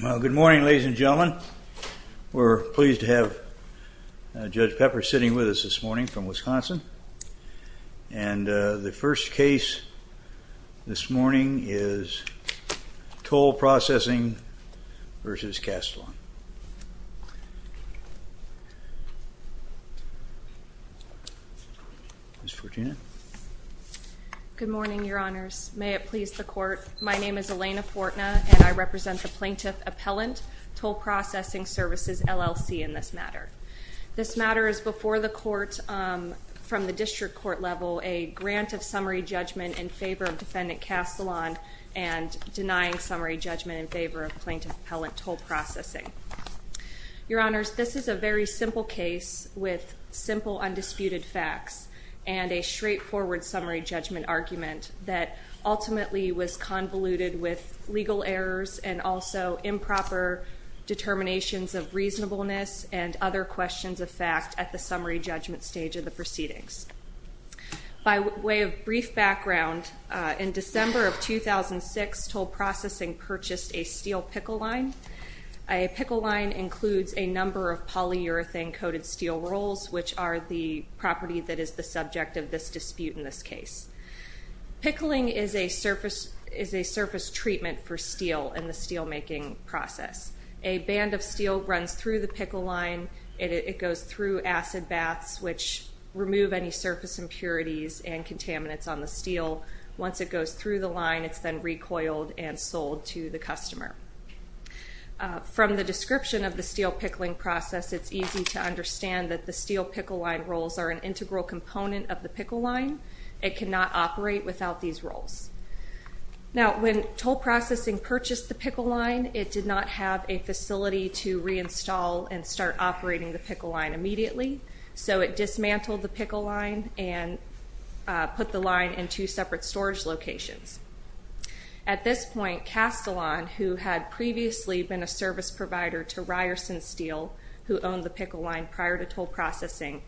Good morning, ladies and gentlemen. We're pleased to have Judge Pepper sitting with us this morning from Wisconsin. And the first case this morning is Toll Processing v. Kastalon. Ms. Fortuna? Good morning, Your Honors. May it please the Court. My name is Elena Fortuna, and I represent the Plaintiff Appellant Toll Processing Services, LLC in this matter. This matter is before the Court from the District Court level, a grant of summary judgment in favor of Defendant Kastalon and denying summary judgment in favor of Plaintiff Appellant Toll Processing. Your Honors, this is a very simple case with simple, undisputed facts and a straightforward summary judgment argument that ultimately was convoluted with legal errors and also improper determinations of reasonableness and other questions of fact at the summary judgment stage of the proceedings. By way of brief background, in December of 2006, Toll Processing purchased a steel pickle line. A pickle line includes a number of polyurethane coated steel rolls, which are the property that is the subject of this dispute in this case. Pickling is a surface treatment for steel in the steel making process. A band of steel runs through the pickle line. It goes through acid baths, which remove any surface impurities and contaminants on the steel. Once it goes through the line, it's then recoiled and sold to the customer. From the description of the steel pickling process, it's easy to understand that the steel pickle line rolls are an integral component of the pickle line. It cannot operate without these rolls. Now, when Toll Processing purchased the pickle line, it did not have a facility to reinstall and start operating the pickle line immediately, so it dismantled the pickle line and put the line in two separate storage locations. At this point, Castellan, who had previously been a service provider to Ryerson Steel, who owned the pickle line prior to Toll Processing,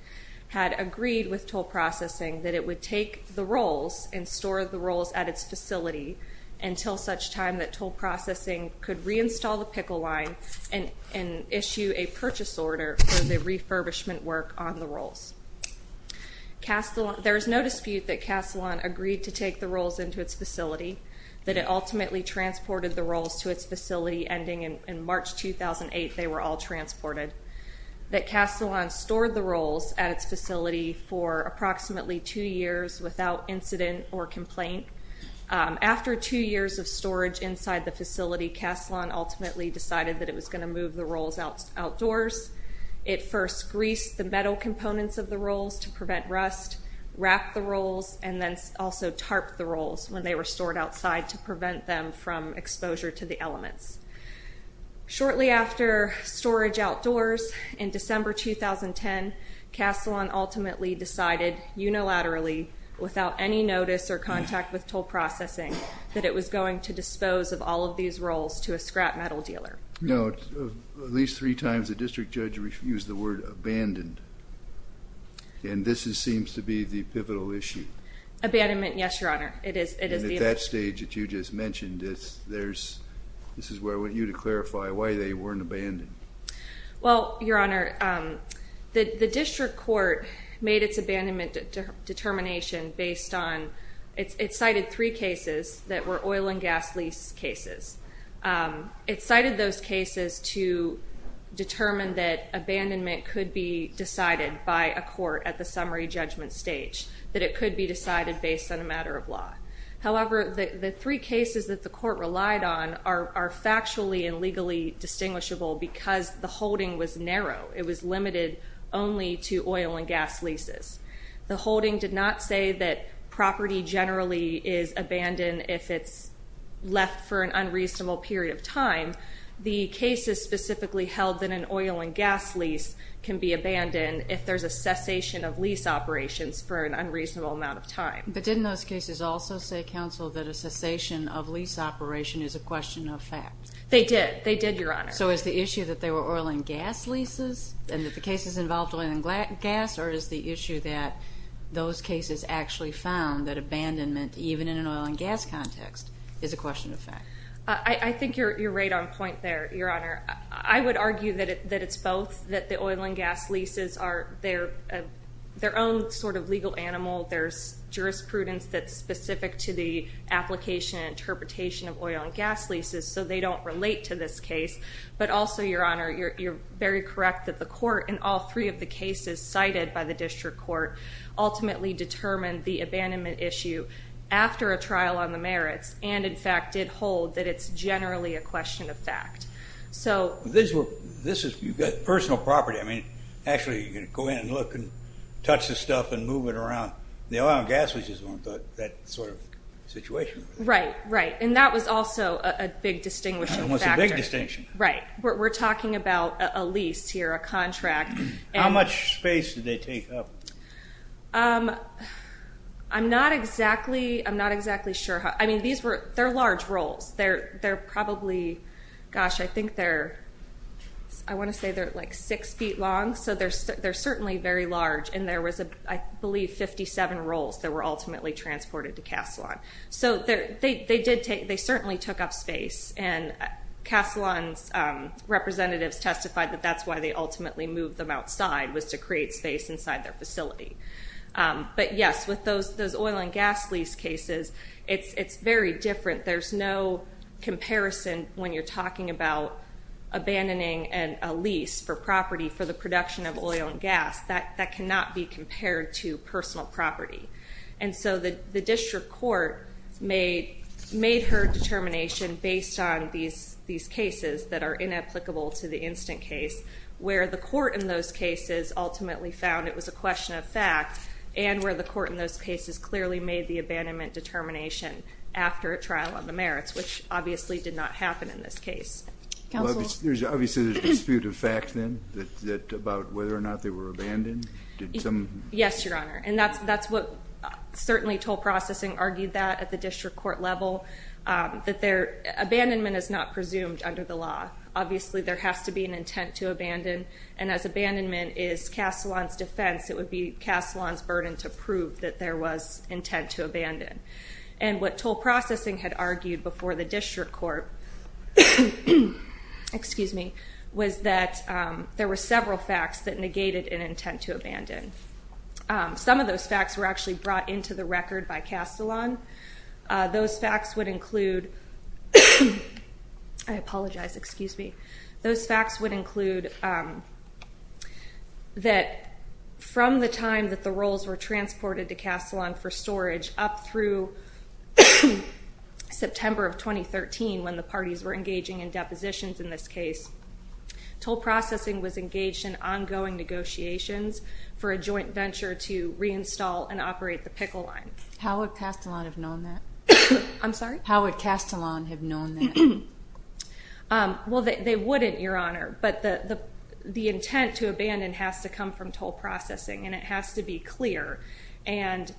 had agreed with Toll Processing that it would take the rolls and store the rolls at its facility until such time that Toll Processing could reinstall the pickle line and issue a purchase order for the refurbishment work on the rolls. There is no dispute that Castellan agreed to take the rolls into its facility, that it ultimately transported the rolls to its facility, ending in March 2008, they were all transported, that Castellan stored the rolls at its facility for approximately two years without incident or complaint. After two years of storage inside the facility, Castellan ultimately decided that it was going to move the rolls outdoors. It first greased the metal components of the rolls to prevent rust, wrapped the rolls, and then also tarped the rolls when they were stored outside to prevent them from exposure to the elements. Shortly after storage outdoors, in December 2010, Castellan ultimately decided unilaterally, without any notice or contact with Toll Processing, that it was going to dispose of all of these rolls to a scrap metal dealer. Now, at least three times a district judge refused the word abandoned, and this seems to be the pivotal issue. Abandonment, yes, Your Honor. It is. And at that stage that you just mentioned, there's, this is where I want you to clarify why they weren't abandoned. Well, Your Honor, the district court made its abandonment determination based on, it cited those cases to determine that abandonment could be decided by a court at the summary judgment stage, that it could be decided based on a matter of law. However, the three cases that the court relied on are factually and legally distinguishable because the holding was narrow. It was limited only to oil and gas leases. The holding did not say that property generally is abandoned if it's left for an unreasonable period of time. The cases specifically held that an oil and gas lease can be abandoned if there's a cessation of lease operations for an unreasonable amount of time. But didn't those cases also say, counsel, that a cessation of lease operation is a question of fact? They did. They did, Your Honor. So is the issue that they were oil and gas leases, and that the cases involved oil and gas, or is the issue that those cases actually found that abandonment, even in an oil and gas context, is a question of fact? I think you're right on point there, Your Honor. I would argue that it's both, that the oil and gas leases are their own sort of legal animal. There's jurisprudence that's specific to the application and interpretation of oil and gas leases, so they don't relate to this case. But also, Your Honor, you're very correct that the court in all three of the cases cited by the district court ultimately determined the abandonment issue after a trial on the merits, and in fact did hold that it's generally a question of fact. So this is, you've got personal property. I mean, actually, you can go in and look and touch the stuff and move it around. The oil and gas leases weren't that sort of situation. Right, right. And that was also a big distinguishing factor. It was a big distinction. Right. We're talking about a lease here, a contract. How much space did they take up? I'm not exactly sure. I mean, these were, they're large rolls. They're probably, gosh, I think they're, I want to say they're like six feet long, so they're certainly very large, and there was, I believe, 57 rolls that were ultimately transported to Kastelan. So they certainly took up space, and Kastelan's representatives testified that that's why they ultimately moved them outside, was to create space inside their facility. But yes, with those oil and gas lease cases, it's very different. There's no comparison when you're talking about abandoning a lease for property for the production of oil and gas. That cannot be compared to personal property. And so the district court made her determination based on these cases that are inapplicable to the instant case, where the court in those cases ultimately found it was a question of fact, and where the court in those cases clearly made the abandonment determination after a trial on the merits, which obviously did not happen in this case. Counsel? There's obviously a dispute of fact, then, about whether or not they were abandoned? Yes, Your Honor. And that's what, certainly, toll processing argued that at the district court level, that abandonment is not presumed under the law. Obviously, there has to be an intent to abandon, and as abandonment is Kastelan's defense, it would be Kastelan's burden to prove that there was intent to abandon. And what toll processing had argued before the district court was that there were several facts that negated an intent to abandon. Some of those facts were actually brought into the record by Kastelan. Those facts would include, I apologize, excuse me. Those facts would include that from the time that the rolls were transported to Kastelan for storage up through September of 2013, when the parties were engaging in depositions in this case, toll processing was engaged in ongoing negotiations for a joint venture to reinstall and operate the Pickle Line. How would Kastelan have known that? I'm sorry? How would Kastelan have known that? Well, they wouldn't, Your Honor, but the intent to abandon has to come from toll processing, and it has to be clear. And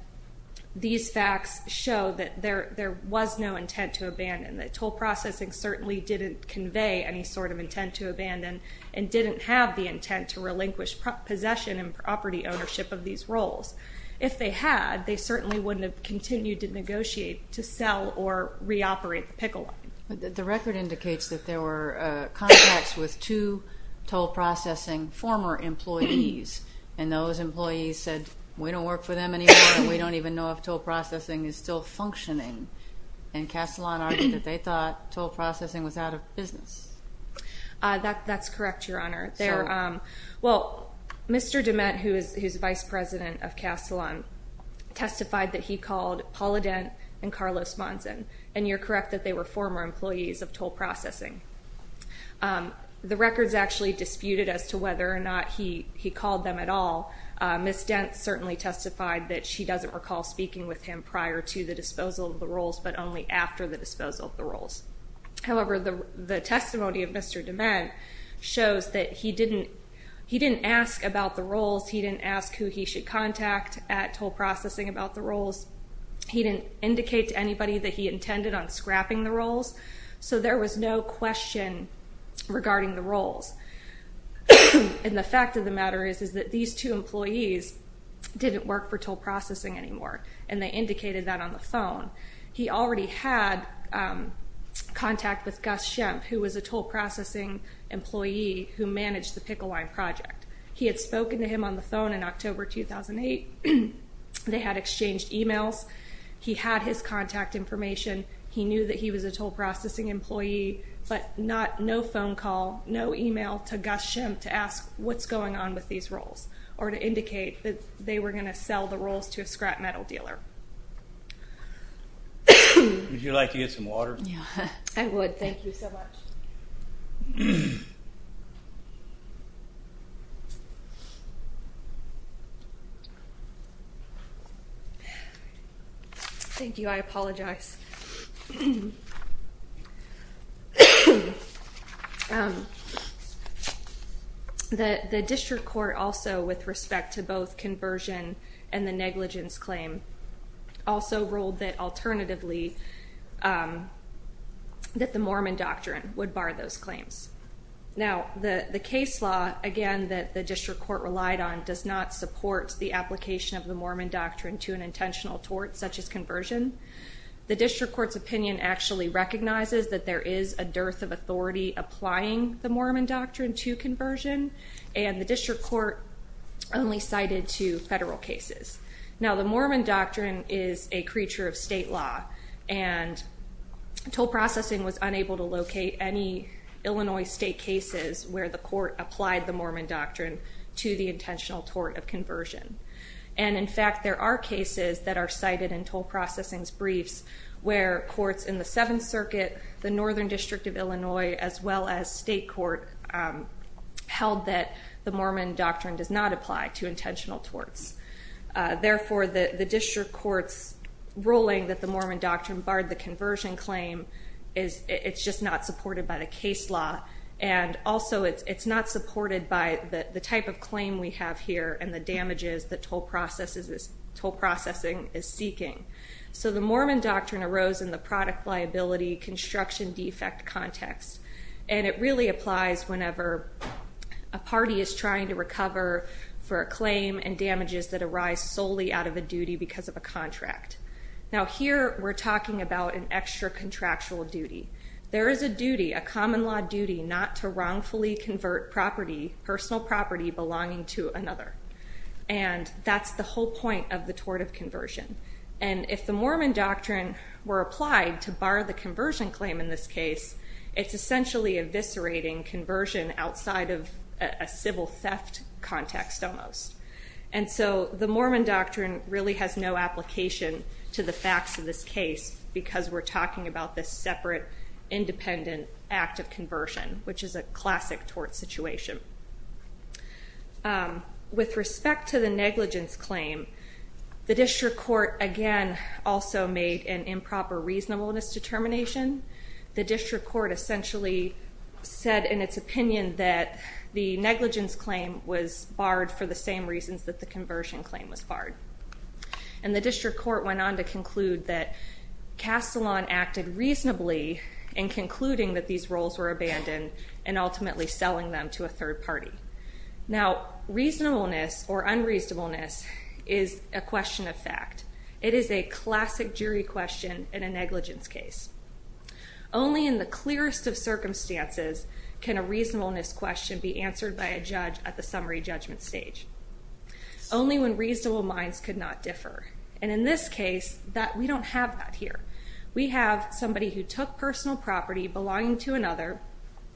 these facts show that there was no intent to abandon, that toll processing certainly didn't convey any sort of intent to abandon and didn't have the intent to relinquish possession and property ownership of these rolls. If they had, they certainly wouldn't have continued to negotiate to sell or reoperate the Pickle Line. The record indicates that there were contacts with two toll processing former employees, and those employees said, we don't work for them anymore, and we don't even know if toll processing was out of business. That's correct, Your Honor. Well, Mr. DeMette, who is Vice President of Kastelan, testified that he called Paula Dent and Carlos Monson, and you're correct that they were former employees of toll processing. The records actually disputed as to whether or not he called them at all. Ms. Dent certainly testified that she doesn't recall speaking with him prior to the disposal of the rolls, but only after the disposal of the rolls. However, the testimony of Mr. DeMette shows that he didn't ask about the rolls. He didn't ask who he should contact at toll processing about the rolls. He didn't indicate to anybody that he intended on scrapping the rolls. So there was no question regarding the rolls. And the fact of the matter is that these two employees didn't work for toll processing anymore, and they indicated that on the phone. He already had contact with Gus Shemp, who was a toll processing employee who managed the Pickle Line project. He had spoken to him on the phone in October 2008. They had exchanged emails. He had his contact information. He knew that he was a toll processing employee, but no phone call, no email to Gus Shemp to ask what's going on with these rolls, or to indicate that they were going to sell the rolls to a scrap metal dealer. Would you like to get some water? Yeah, I would. Thank you so much. Thank you. I apologize. The district court also, with respect to both conversion and the negligence claim, also ruled that alternatively that the Mormon doctrine would bar those claims. Now, the case law, again, that the district court relied on does not support the application of the Mormon doctrine to an conversion. The district court's opinion actually recognizes that there is a dearth of authority applying the Mormon doctrine to conversion, and the district court only cited to federal cases. Now, the Mormon doctrine is a creature of state law, and toll processing was unable to locate any Illinois state cases where the court applied the Mormon doctrine to the intentional tort of where courts in the Seventh Circuit, the Northern District of Illinois, as well as state court held that the Mormon doctrine does not apply to intentional torts. Therefore, the district court's ruling that the Mormon doctrine barred the conversion claim, it's just not supported by the case law, and also it's not supported by the type of claim we have here and the damages that arise solely out of a duty because of a contract. Now, here, we're talking about an extra contractual duty. There is a duty, a common law duty, not to wrongfully convert property, personal property, belonging to another, and that's the whole point of the tort of conversion, and if the Mormon doctrine were applied to bar the conversion claim in this case, it's essentially eviscerating conversion outside of a civil theft context almost, and so the Mormon doctrine really has no application to the facts of this case because we're talking about this separate, independent act of conversion, which is a classic tort situation. With respect to the negligence claim, the district court again also made an improper reasonableness determination. The district court essentially said in its opinion that the negligence claim was barred for the same reasons that the conversion claim was barred, and the district court went on to conclude that Castellon acted reasonably in concluding that these roles were abandoned and ultimately selling them to a third party. Now, reasonableness or reasonableness is a classic jury question in a negligence case. Only in the clearest of circumstances can a reasonableness question be answered by a judge at the summary judgment stage, only when reasonable minds could not differ, and in this case, we don't have that here. We have somebody who took personal property belonging to another,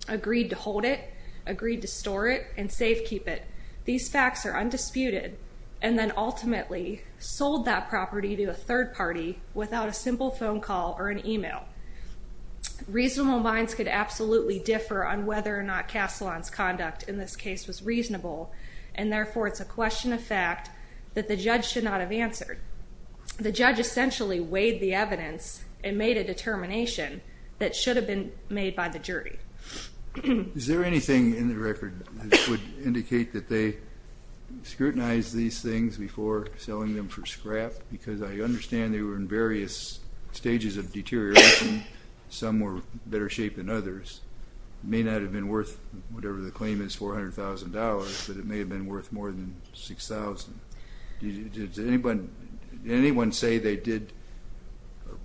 agreed to hold it, agreed to store it, and safekeep it. These facts are undisputed, and then ultimately sold that property to a third party without a simple phone call or an email. Reasonable minds could absolutely differ on whether or not Castellon's conduct in this case was reasonable, and therefore it's a question of fact that the judge should not have answered. The judge essentially weighed the evidence and made a determination that should have been made by the jury. Is there anything in the record that would indicate that they scrutinized these things before selling them for scrap? Because I understand they were in various stages of deterioration. Some were better shape than others. It may not have been worth whatever the claim is, $400,000, but it may have been worth more than $6,000. Did anyone say they did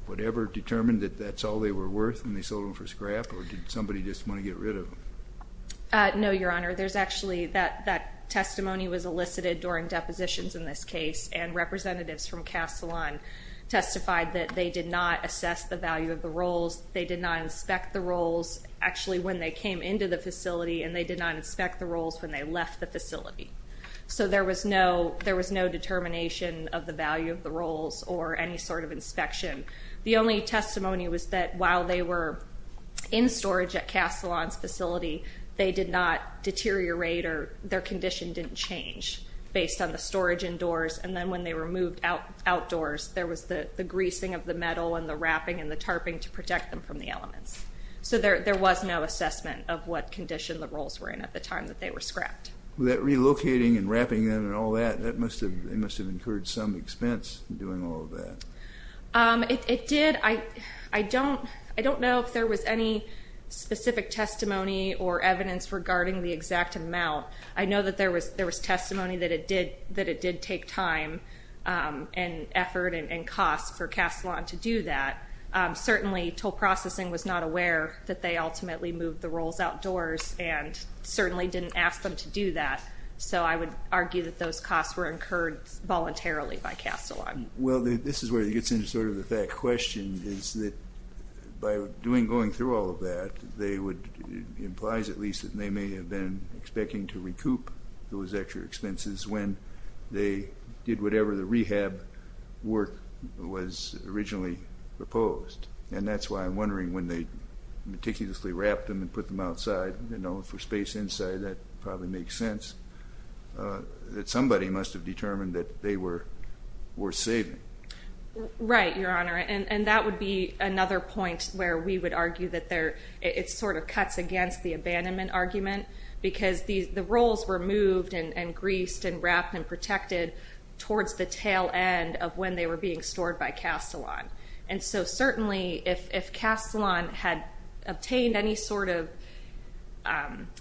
whatever determined that that's all they were worth when they sold them for scrap, or did somebody just want to get rid of them? No, Your Honor. There's actually, that testimony was elicited during depositions in this case, and representatives from Castellon testified that they did not assess the value of the rolls, they did not inspect the rolls actually when they came into the facility, and they did not inspect the rolls when they left the facility. So there was no determination of the value of the rolls or any sort of inspection. The only testimony was that while they were in storage at Castellon's facility, they did not deteriorate or their condition didn't change based on the storage indoors, and then when they were moved outdoors, there was the greasing of the metal and the wrapping and the tarping to protect them from the elements. So there was no assessment of what condition the rolls were in at the time that they were scrapped. That relocating and wrapping them and all that, that must have encouraged some expense doing all of that. It did. I don't know if there was any specific testimony or evidence regarding the exact amount. I know that there was testimony that it did take time and effort and cost for Castellon to do that. Certainly, Toll Processing was not aware that they ultimately moved the rolls outdoors and certainly didn't ask them to do that, so I would argue that those costs were incurred voluntarily by Castellon. Well, this is where it gets into sort of that question, is that by going through all of that, they would, it implies at least, that they may have been expecting to recoup those extra expenses when they did whatever the rehab work was originally proposed, and that's why I'm wondering when they meticulously wrapped them and put them outside, you know, for space inside, that probably makes sense, that somebody must have determined that they were worth saving. Right, Your Honor, and that would be another point where we would argue that there, it sort of cuts against the abandonment argument, because the rolls were moved and greased and wrapped and protected towards the tail end of when they were being stored by Castellon, and so certainly if Castellon had obtained any sort of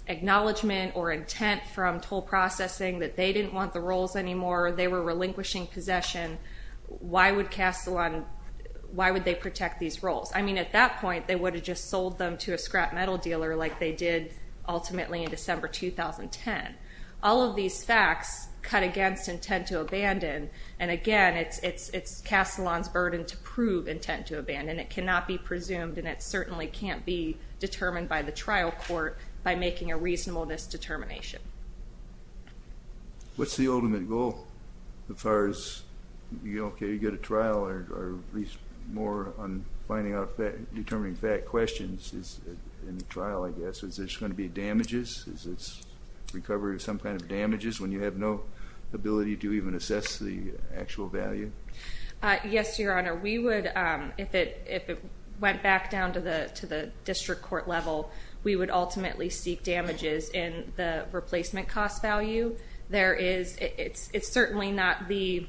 acknowledgement or intent from Toll Processing that they didn't want the why would they protect these rolls? I mean at that point they would have just sold them to a scrap metal dealer like they did ultimately in December 2010. All of these facts cut against intent to abandon, and again it's Castellon's burden to prove intent to abandon. It cannot be presumed and it certainly can't be determined by the trial court by making a reasonableness determination. What's the ultimate goal as far as, you know, can you get a trial or at least more on finding out determining fact questions in the trial, I guess? Is there going to be damages? Is this recovery of some kind of damages when you have no ability to even assess the actual value? Yes, Your Honor, we would, if it went back down to the district court level, we would ultimately seek damages in the replacement cost value. There is, it's certainly not the,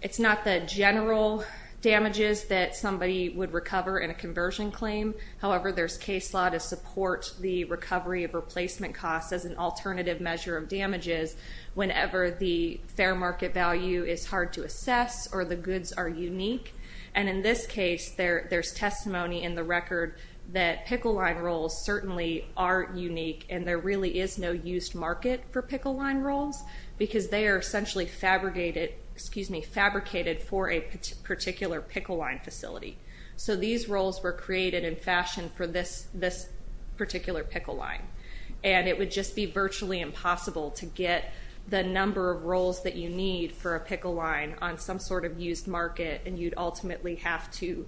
it's not the general damages that somebody would recover in a conversion claim. However, there's case law to support the recovery of replacement costs as an alternative measure of damages whenever the fair market value is hard to assess or the goods are unique, and in this case there's testimony in the record that pickle line rolls certainly are unique and there really is no used market for pickle line rolls because they are essentially fabricated, excuse me, fabricated for a particular pickle line facility. So these rolls were created in fashion for this particular pickle line and it would just be virtually impossible to get the number of rolls that you need for a pickle line on some sort of used market and you'd ultimately have to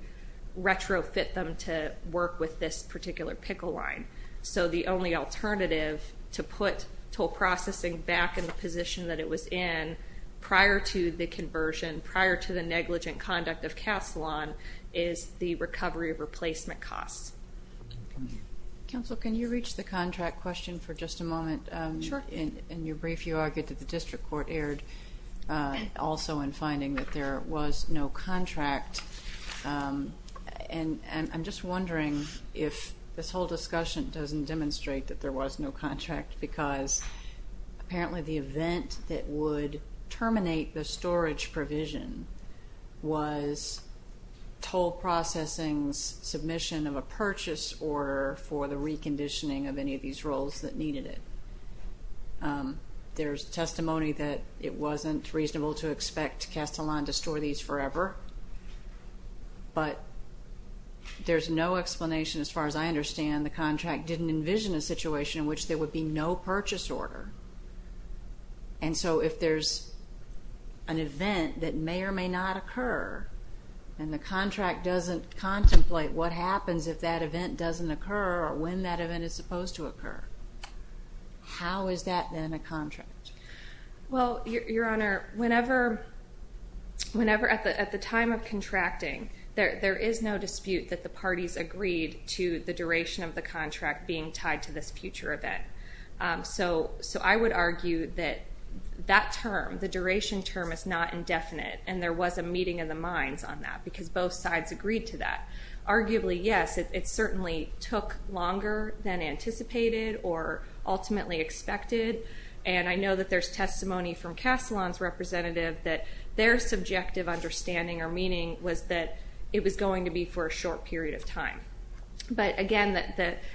retrofit them to work with this particular pickle line. So the only alternative to put toll processing back in the position that it was in prior to the conversion, prior to the negligent conduct of Caslon, is the recovery of replacement costs. Counsel, can you reach the contract question for just a moment? Sure. In your brief, you argued that the district court erred also in finding that there was no contract, and I'm just wondering if this whole discussion doesn't demonstrate that there was no contract because apparently the event that would terminate the storage provision was toll processing's submission of a purchase order for the reconditioning of any of these rolls that needed it. There's testimony that it wasn't reasonable to expect Caslon to store these forever, but there's no explanation as far as I understand the contract didn't envision a situation in which there would be no purchase order. And so if there's an event that may or may not occur and the contract doesn't contemplate what happens if that event doesn't occur or when that event is supposed to occur, how is that then a contract? Well, Your Honor, whenever at the time of contracting, there is no dispute that the parties agreed to the duration of the contract being tied to this future event. So I would argue that that term, the duration term, is not indefinite and there was a meeting of the minds on that because both sides agreed to that. Arguably, yes, it certainly took longer than anticipated or ultimately expected, and I know that there's testimony from Caslon's representative that their subjective understanding or meaning was that it was going to be for a short period of time. But again,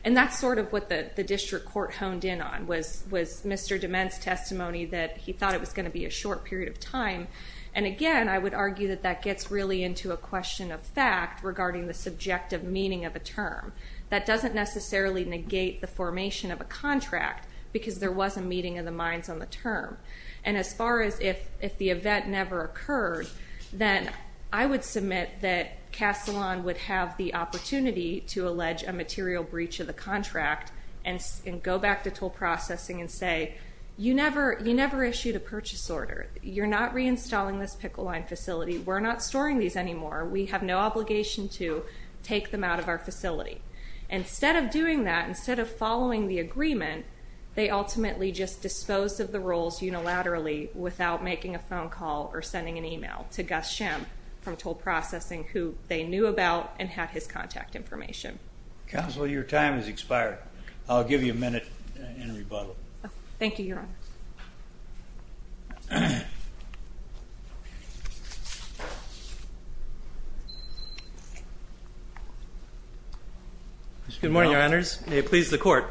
and that's sort of what the district court honed in on, was Mr. DeMent's testimony that he thought it was going to be a short period of time. And again, I would argue that that gets really into a question of fact regarding the subjective meaning of a term. That doesn't necessarily negate the formation of a contract because there was a meeting of the minds on the term. And as far as if the event never occurred, then I would submit that Caslon would have the opportunity to allege a material breach of the contract and go back to toll processing and say, you never issued a purchase order. You're not reinstalling this Pickle Line facility. We're not storing these anymore. We have no take them out of our facility. Instead of doing that, instead of following the agreement, they ultimately just disposed of the roles unilaterally without making a phone call or sending an email to Gus Shem from toll processing who they knew about and had his contact information. Counsel, your time has expired. I'll give you a minute in rebuttal. Thank you, Your Honor. Good morning, Your Honors. May it please the court.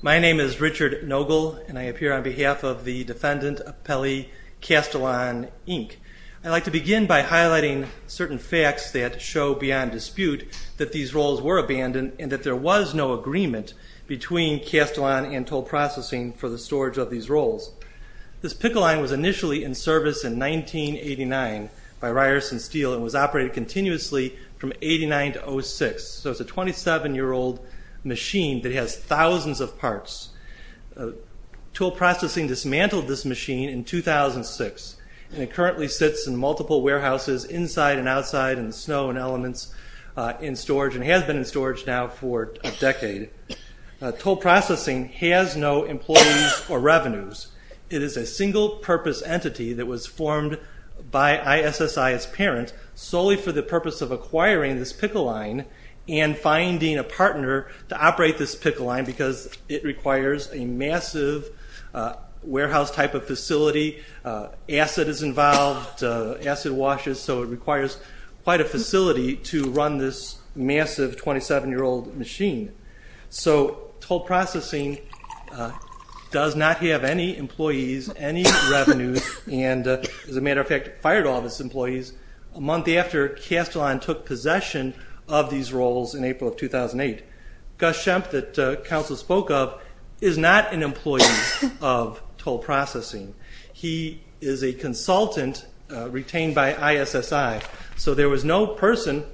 My name is Richard Nogle, and I appear on behalf of the defendant, Pelli Castellon, Inc. I'd like to begin by highlighting certain facts that show beyond dispute that these roles were abandoned and that there was no agreement between Castellon and toll processing for the storage of these roles. This Pickle Line was initially in service in 1989 by Ryerson Steel and was operated continuously from 89 to 06. So it's a 27-year-old machine that has thousands of parts. Toll processing dismantled this machine in 2006, and it currently sits in storage and has been in storage now for a decade. Toll processing has no employees or revenues. It is a single-purpose entity that was formed by ISSI as parents solely for the purpose of acquiring this Pickle Line and finding a partner to operate this Pickle Line because it requires a massive warehouse type of facility. Acid is involved, acid washes, so it requires quite a facility to run this massive 27-year-old machine. So toll processing does not have any employees, any revenues, and as a matter of fact, fired all of its employees a month after Castellon took possession of these roles in April of 2008. Gus Shemp that there was no person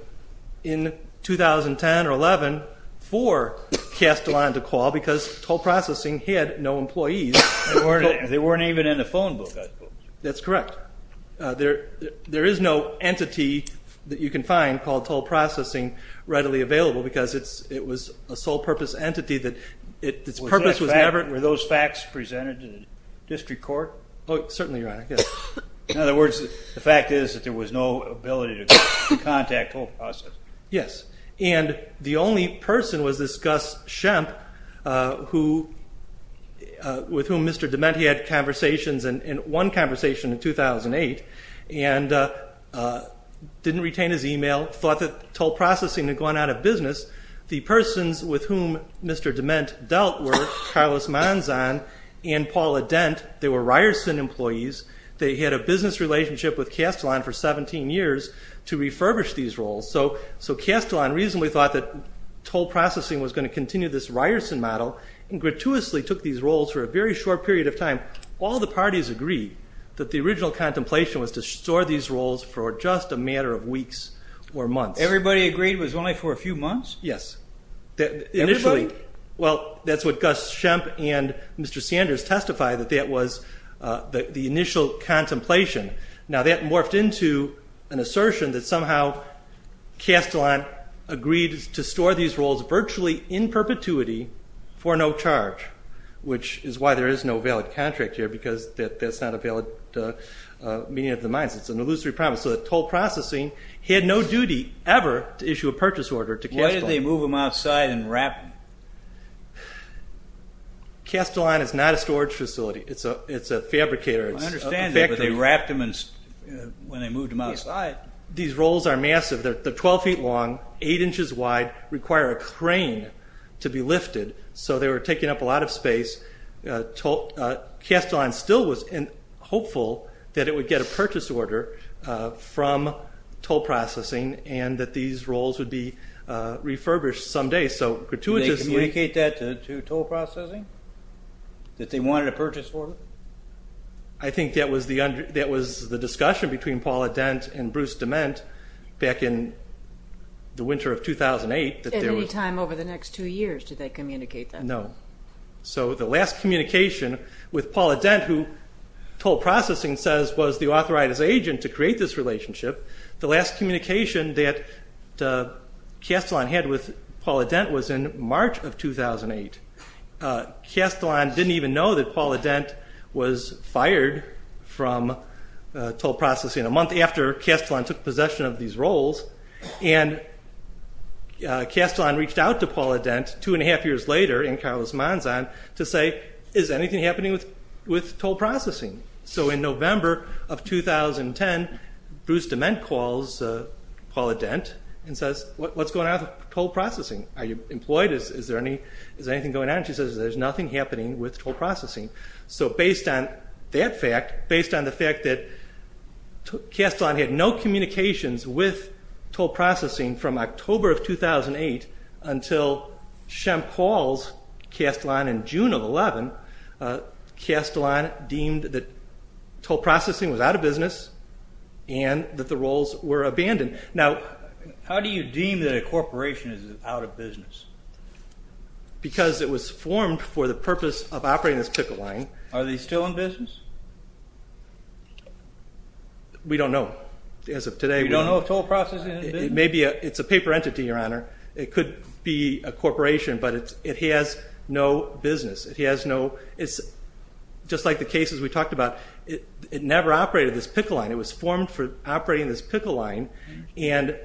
in 2010 or 11 for Castellon to call because toll processing had no employees. They weren't even in the phone book, I suppose. That's correct. There is no entity that you can find called toll processing readily available because it was a sole-purpose entity that its purpose was never... Were those facts presented to the district court? Oh, certainly, in other words, the fact is that there was no ability to contact toll processing. Yes, and the only person was this Gus Shemp with whom Mr. DeMent had conversations in one conversation in 2008 and didn't retain his email, thought that toll processing had gone out of business. The persons with whom Mr. DeMent dealt were Carlos Manzan and Paula Dent. They were Ryerson employees. They had a business relationship with Castellon for 17 years to refurbish these roles, so Castellon reasonably thought that toll processing was going to continue this Ryerson model and gratuitously took these roles for a very short period of time. All the parties agreed that the original contemplation was to store these roles for just a matter of weeks or months. Everybody agreed it was only for a few months? Yes. Initially... Everybody? Well, that's what the initial contemplation... Now, that morphed into an assertion that somehow Castellon agreed to store these roles virtually in perpetuity for no charge, which is why there is no valid contract here because that's not a valid meeting of the minds. It's an illusory problem, so that toll processing had no duty ever to issue a purchase order to Castellon. Why did I understand that, but they wrapped them when they moved them outside? These roles are massive. They're 12 feet long, 8 inches wide, require a crane to be lifted, so they were taking up a lot of space. Castellon still was hopeful that it would get a purchase order from toll processing and that these roles would be refurbished someday, so gratuitously... Did they communicate that to Castellon? I think that was the discussion between Paul Adent and Bruce Dement back in the winter of 2008. At any time over the next two years, did they communicate that? No. So the last communication with Paul Adent, who toll processing says was the authoritative agent to create this relationship, the last communication that Castellon had with Paul Adent was in March of 2008. Castellon didn't even know that Paul Adent was fired from toll processing a month after Castellon took possession of these roles, and Castellon reached out to Paul Adent two and a half years later in Carlos Manzan to say, is anything happening with toll processing? So in November of 2010, Bruce Dement calls Paul Adent and says, what's going on with toll processing? Are you employed? Is there anything going on? She says, there's nothing happening with toll processing. So based on that fact, based on the fact that Castellon had no communications with toll processing from October of 2008 until Shemp calls Castellon in June of 11, Castellon deemed that toll processing was out of business and that the roles were abandoned. Now, how do you deem that a corporation is out of business? Because it was formed for the purpose of operating this pickle line. Are they still in business? We don't know. As of today, we don't know. Maybe it's a paper entity, Your Honor. It could be a corporation, but it has no business. It has no, it's just like the cases we talked about. It never operated this pickle line. It was formed for operating this pickle line, and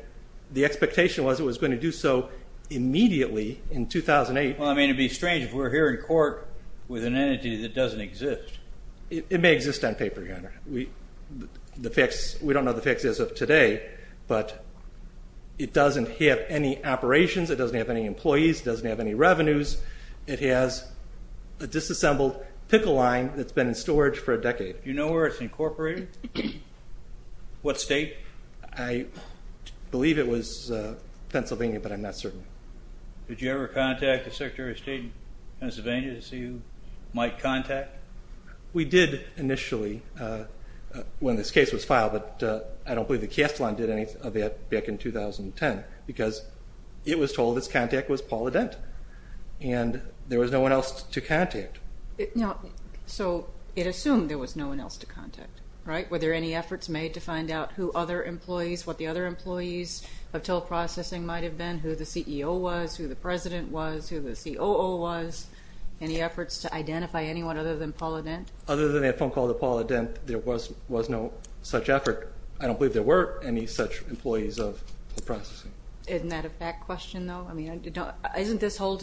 the expectation was it was going to do so immediately in 2008. Well, I mean, it'd be strange if we're here in court with an entity that doesn't exist. It may exist on paper, Your Honor. We don't know the facts as of today, but it doesn't have any operations. It doesn't have any employees. It doesn't have any revenues. It has a disassembled pickle line that's been in storage for a decade. Do you know where it's incorporated? What state? I believe it was Pennsylvania, but I'm not certain. Did you ever contact the Secretary of State in Pennsylvania to see who might contact? We did initially when this case was filed, but I don't believe the cast line did any of that back in 2010, because it was told its contact was Paula Dent, and there was no one else to contact. So it assumed there was no one else to contact, right? Were there any efforts made to find out who other employees, what the other employees of Till Processing might have been, who the CEO was, who the President was, who the COO was? Any efforts to identify anyone other than Paula Dent? Other than that phone call to Paula Dent, there was no such effort. I don't believe there were any such employees of Till Processing. Isn't that a fact question, though? I mean, isn't this whole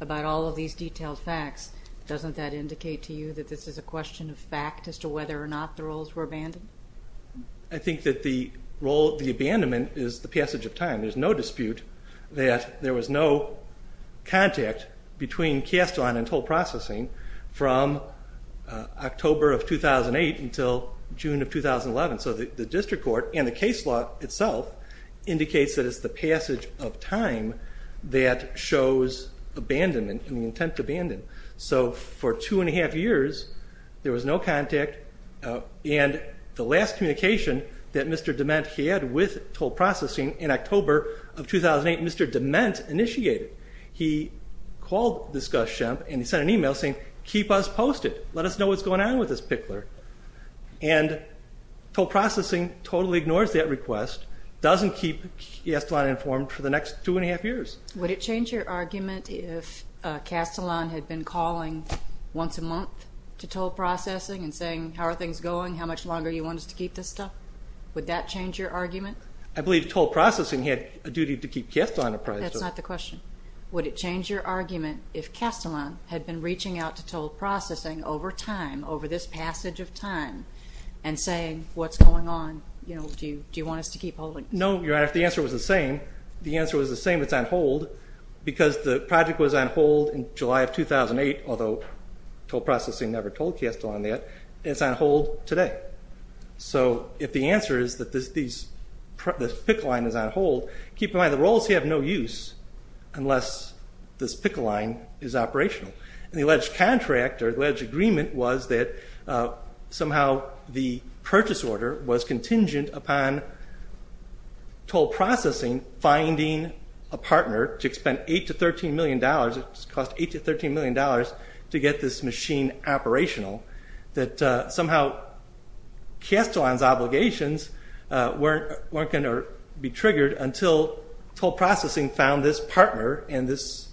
about all of these detailed facts, doesn't that indicate to you that this is a question of fact as to whether or not the roles were abandoned? I think that the role of the abandonment is the passage of time. There's no dispute that there was no contact between Castillon and Till Processing from October of 2008 until June of 2011. So the District Court and the case law itself indicates that it's the passage of time that shows abandonment and the intent to abandon. So for two and a half years, there was no contact. And the last communication that Mr. DeMent had with Till Processing in October of 2008, Mr. DeMent initiated. He called this Gus Shemp and he sent an email saying, keep us posted, let us know what's going on with this pickler. And Till Processing totally ignores that request, doesn't keep Castillon informed for the next two and a half years. Would it change your argument if Castillon had been calling once a month to Till Processing and saying, how are things going, how much longer do you want us to keep this stuff? Would that change your argument? I believe Till Processing had a duty to keep Castillon apprised. That's not the question. Would it change your argument if Castillon had been reaching out to Till Processing and saying, do you want us to keep holding? No, Your Honor, if the answer was the same, the answer was the same, it's on hold, because the project was on hold in July of 2008, although Till Processing never told Castillon that, it's on hold today. So if the answer is that this pick line is on hold, keep in mind the rolls have no use unless this pick line is operational. And the alleged contract or alleged agreement was that somehow the purchase order was contingent upon Till Processing finding a partner to expend 8 to 13 million dollars, it cost 8 to 13 million dollars to get this machine operational, that somehow Castillon's obligations weren't going to be triggered until Till Processing found this partner and this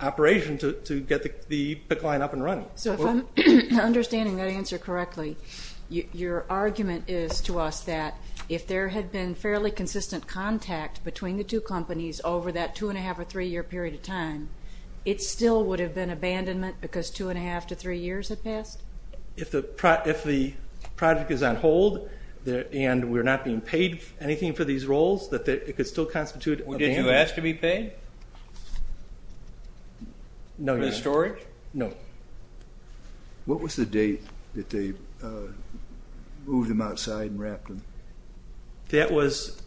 operation to get the pick line up and running. So if I'm understanding that answer correctly, your argument is to us that if there had been fairly consistent contact between the two companies over that two and a half or three year period of time, it still would have been abandonment because two and a half to anything for these rolls, that it could still constitute abandonment. Did you ask to be paid for the storage? No. What was the date that they moved them outside and wrapped them? That was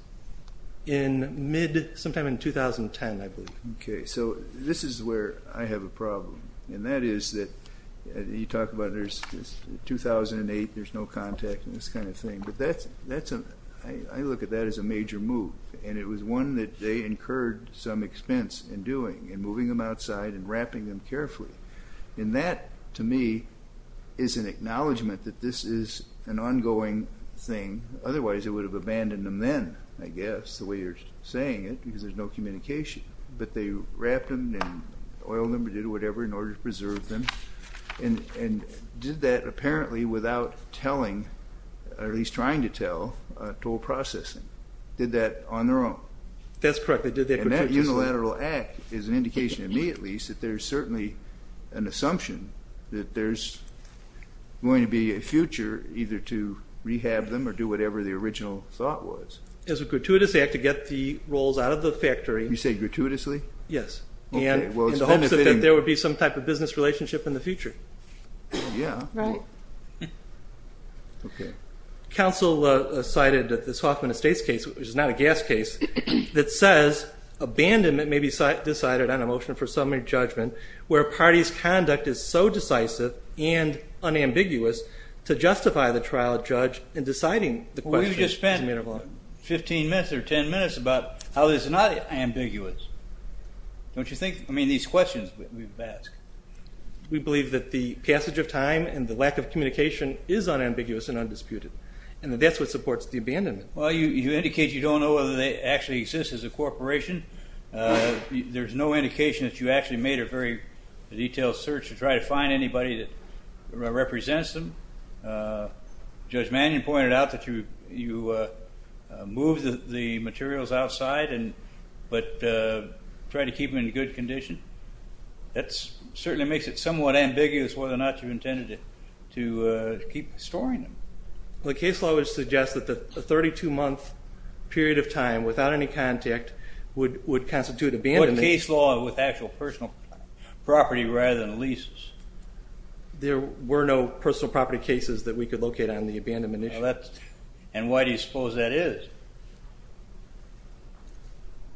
in mid, sometime in 2010, I believe. Okay, so this is where I have a problem, and that is that you talk about there's 2008, there's no contact and this kind of thing, but I look at that as a major move, and it was one that they incurred some expense in doing, in moving them outside and wrapping them carefully, and that to me is an acknowledgment that this is an ongoing thing, otherwise it would have abandoned them then, I guess, the way you're saying it, because there's no communication, but they wrapped them and oiled them and did whatever in order to preserve them, and did that apparently without telling, or at least trying to tell, toll processing. Did that on their own? That's correct, they did that gratuitously. And that unilateral act is an indication, to me at least, that there's certainly an assumption that there's going to be a future either to rehab them or do whatever the original thought was. As a gratuitous act to get the rolls out of the factory. You say gratuitously? Yes. And in the hopes that there would be some type of business relationship in the future. Yeah. Okay. Counsel cited this Hoffman Estates case, which is not a gas case, that says abandonment may be decided on a motion for summary judgment where a party's conduct is so decisive and unambiguous to justify the trial judge in deciding the question. We just spent 15 minutes or 10 minutes about how this is not ambiguous. Don't you think, I mean, these questions we've asked. We believe that the passage of time and the lack of communication is unambiguous and undisputed, and that that's what supports the abandonment. Well, you indicate you don't know whether they actually exist as a corporation. There's no indication that you actually made a very detailed search to try to find anybody that represents them. Judge Mannion pointed out that you moved the materials outside, but tried to keep them in good condition. That certainly makes it somewhat ambiguous whether or not you intended to keep storing them. The case law would suggest that the 32-month period of time without any contact would constitute abandonment. What case law with actual personal property rather than leases? There were no personal property cases that we could locate on the abandonment issue. And why do you suppose that is?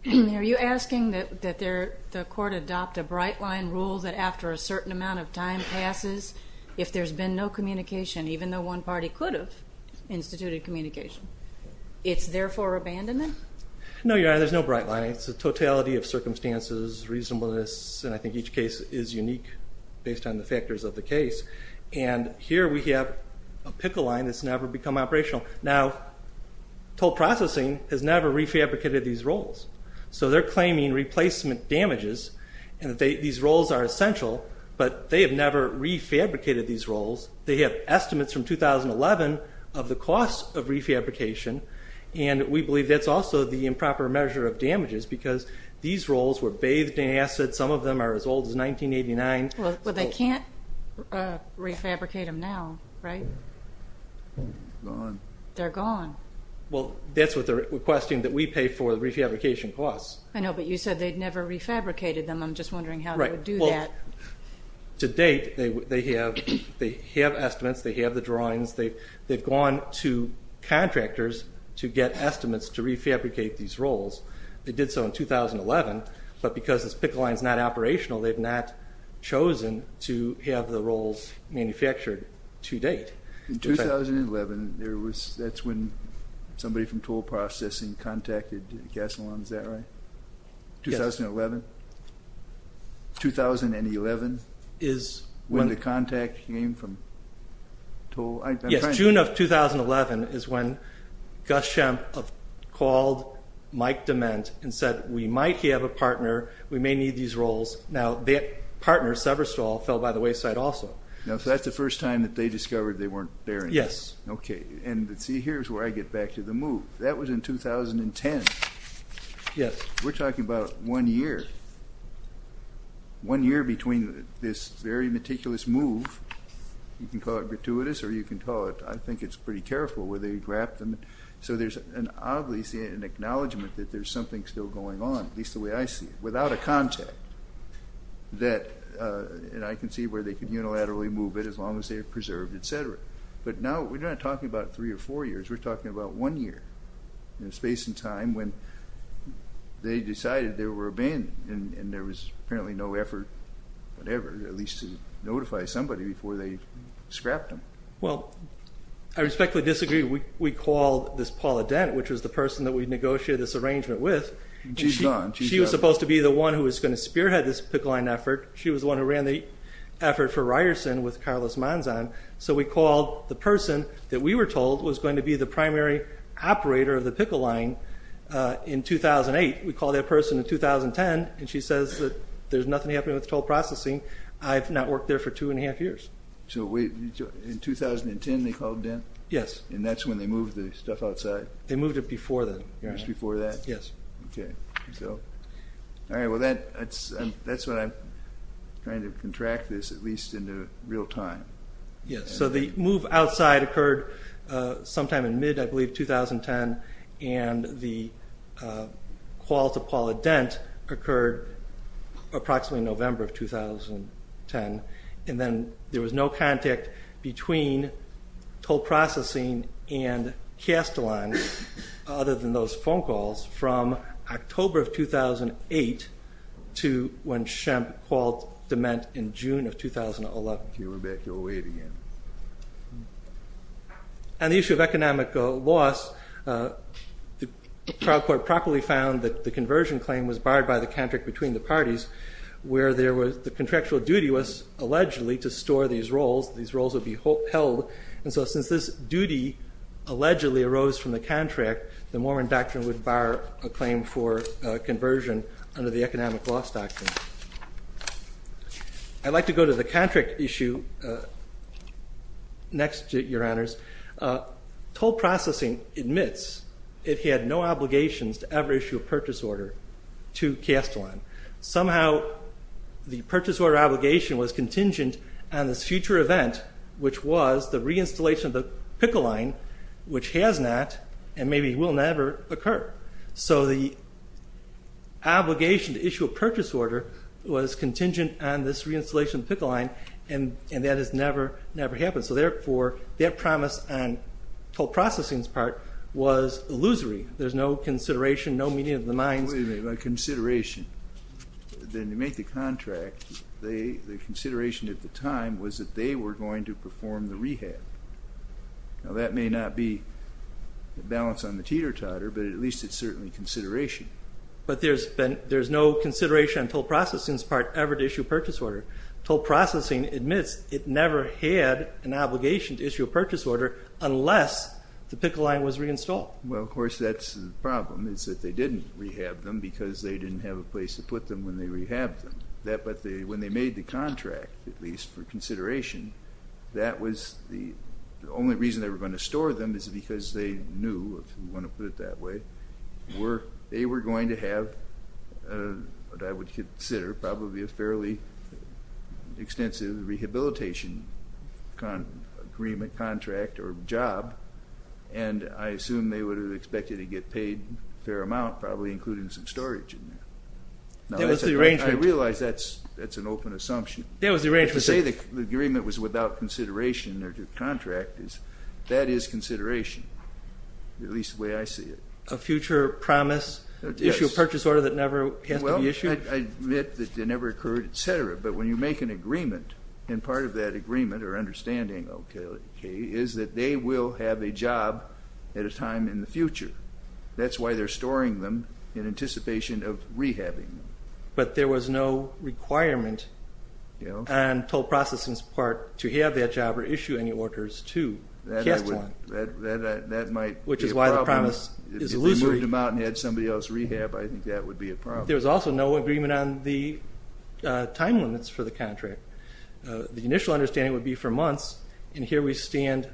Are you asking that the court adopt a bright line rule that after a certain amount of time passes, if there's been no communication, even though one party could have instituted communication, it's therefore abandonment? No, Your Honor, there's no bright line. It's a totality of circumstances, reasonableness, and I think each case is unique based on the factors of the case. And here we have a pickle line that's never become operational. Now, Toll Processing has never refabricated these rolls, so they're claiming replacement damages, and these rolls are essential, but they have never refabricated these rolls. They have estimates from 2011 of the cost of refabrication, and we believe that's also the improper measure of damages, because these rolls were bathed in acid. Some of them are as old as 1989. But they can't refabricate them now, right? Gone. They're gone. Well, that's what they're requesting, that we pay for the refabrication costs. I know, but you said they'd never refabricated them. I'm just wondering how they would do that. To date, they have estimates, they have the drawings, they've gone to contractors to get estimates to refabricate these rolls. They did so in 2011, but because this pickle line's not operational, they've not chosen to have the rolls manufactured to date. In 2011, that's when somebody from Toll Processing contacted Gas-O-Land, is that right? Yes. 2011? 2011? When the contact came from Toll? Yes. June of 2011 is when Gus Shemp called Mike DeMent and said, we might have a partner, we may need these rolls. Now, that partner, Severstall, fell by the wayside also. Now, so that's the first time that they discovered they weren't there anymore? Yes. Okay. And see, here's where I get back to the move. That was in 2010. Yes. We're talking about one year. One year between this very meticulous move, you can call it gratuitous or you can call it, I think it's pretty careful, where they grabbed them. So there's an obvious acknowledgement that there's something still going on, at least the way I see it, without a contact. That, and I can see where they could unilaterally move it as long as they're preserved, etc. But now, we're not talking about three or four years, we're talking about one year, space and time when they decided they were abandoned and there was apparently no effort whatever, at least to notify somebody before they scrapped them. Well, I respectfully disagree. We called this Paula Dent, which was the person that we negotiated this arrangement with. She's gone. She was supposed to be the one who was going to spearhead this Pickle Line effort. She was the one who ran the effort for Ryerson with Carlos Manzan. So we called the person that we were told was going to be the primary operator of the Pickle Line in 2008. We called that person in 2010 and she says that there's nothing happening with toll processing. I've not worked there for two and a half years. So wait, in 2010 they called Dent? Yes. And that's when they moved the stuff outside? They moved it before then. Just before that? Yes. Okay. So, all right. Well, that's what I'm trying to contract this, at least in real time. Yes. So the move outside occurred sometime in mid, I believe, 2010 and the call to Paula Dent occurred approximately November of 2010 and then there was no contact between toll processing and Casteline, other than those phone calls, from October of 2008 to when Shemp called Dement in June of 2011. You're going back to 08 again. On the issue of economic loss, the trial court properly found that the conversion claim was barred by the contract between the parties where the contractual duty was allegedly to store these rolls. These rolls would be held. And so since this duty allegedly arose from the contract, the Mormon doctrine would bar a claim for conversion under the economic loss doctrine. I'd like to go to the contract issue next, Your Honors. Toll processing admits it had no obligations to ever issue a purchase order to Casteline. Somehow the purchase order obligation was contingent on this future event, which was the reinstallation of the picket line, which has not and maybe will never occur. So the obligation to issue a purchase order was contingent on this reinstallation of the picket line and that has never, never happened. So therefore, that promise on toll processing's part was illusory. There's no consideration, no meeting of the minds. Wait a minute, a consideration. Then to make the contract, the consideration at the time was that they were going to perform the rehab. Now that may not be a balance on the teeter-totter, but at least it's certainly consideration. But there's been, there's no consideration on toll processing's part ever to issue a purchase order. Toll processing admits it never had an obligation to issue a purchase order unless the picket line was reinstalled. Well, of course, that's the problem is that they didn't rehab them because they didn't have a place to put them when they rehabbed them. But when they made the contract, at least for consideration, that was the only reason they were going to store them is because they knew, if you want to put it that way, they were going to have what I would consider probably a fairly extensive rehabilitation agreement contract or job and I assume they would have expected to get paid a fair amount, probably including some storage in there. That was the arrangement. I realize that's an open assumption. That was the arrangement. To say the agreement was without consideration or to contract is, that is consideration, at least the way I see it. A future promise to issue a purchase order that never has to be issued? I admit that it never occurred, et cetera, but when you make an agreement and part of that agreement or understanding, okay, is that they will have a job at a time in the future. That's why they're storing them in anticipation of rehabbing them. But there was no requirement on toll processing's part to have that job or issue any orders to Castillon, which is why the promise is illusory. If we moved them out and had somebody else rehab, I think that would be a problem. There was also no agreement on the time limits for the contract. The initial understanding would be for months and here we stand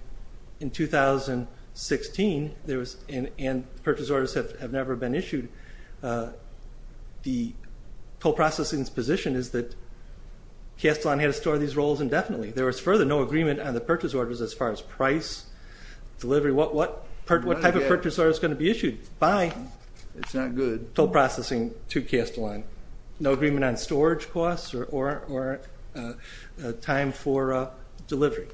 in 2016, there was an agreement, purchase orders have never been issued. The toll processing's position is that Castillon had to store these rolls indefinitely. There was further no agreement on the purchase orders as far as price, delivery, what type of purchase order is going to be issued by toll processing to Castillon. No agreement on storage costs or time for delivery.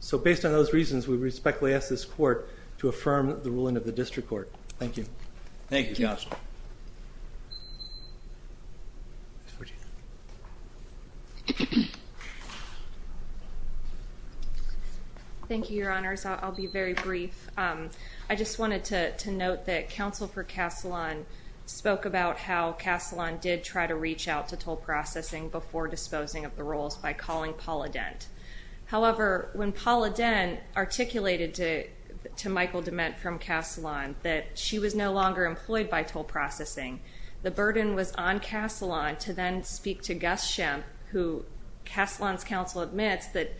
So based on those reasons, we respectfully ask this court to affirm the ruling of the district court. Thank you. Thank you, Counselor. Thank you, Your Honors. I'll be very brief. I just wanted to note that Counsel for Castillon spoke about how Castillon did try to reach out to toll processing before disposing of the rolls by calling Paula Dent. However, when Paula Dent articulated to Michael DeMent from Castillon that she was no longer employed by toll processing, the burden was on Castillon to then speak to Gus Shemp, who Castillon's counsel admits that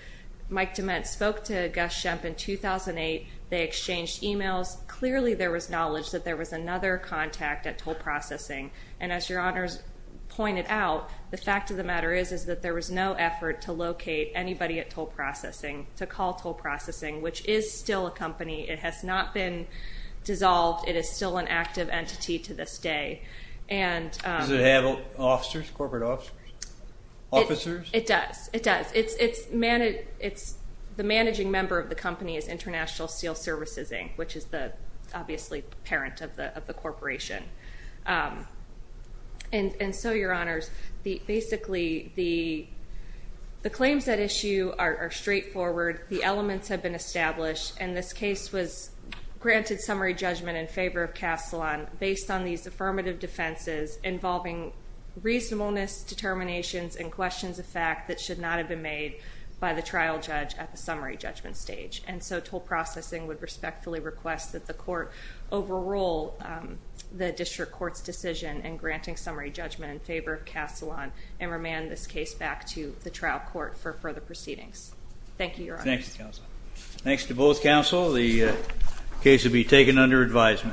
Mike DeMent spoke to Gus Shemp in 2008. They exchanged emails. Clearly there was knowledge that there was another contact at toll processing. And as Your Honors pointed out, the fact of the matter is that there was no effort to at toll processing, to call toll processing, which is still a company. It has not been dissolved. It is still an active entity to this day. Does it have officers, corporate officers, officers? It does. It does. It's the managing member of the company is International Steel Services, Inc., which is the obviously parent of the corporation. And so, Your Honors, basically, the claims at issue are straightforward. The elements have been established. And this case was granted summary judgment in favor of Castillon based on these affirmative defenses involving reasonableness, determinations, and questions of fact that should not have been made by the trial judge at the summary judgment stage. And so toll processing would respectfully request that the court overrule the determination court's decision in granting summary judgment in favor of Castillon and remand this case back to the trial court for further proceedings. Thank you, Your Honors. Thanks, Counsel. Thanks to both counsel. The case will be taken under advisement.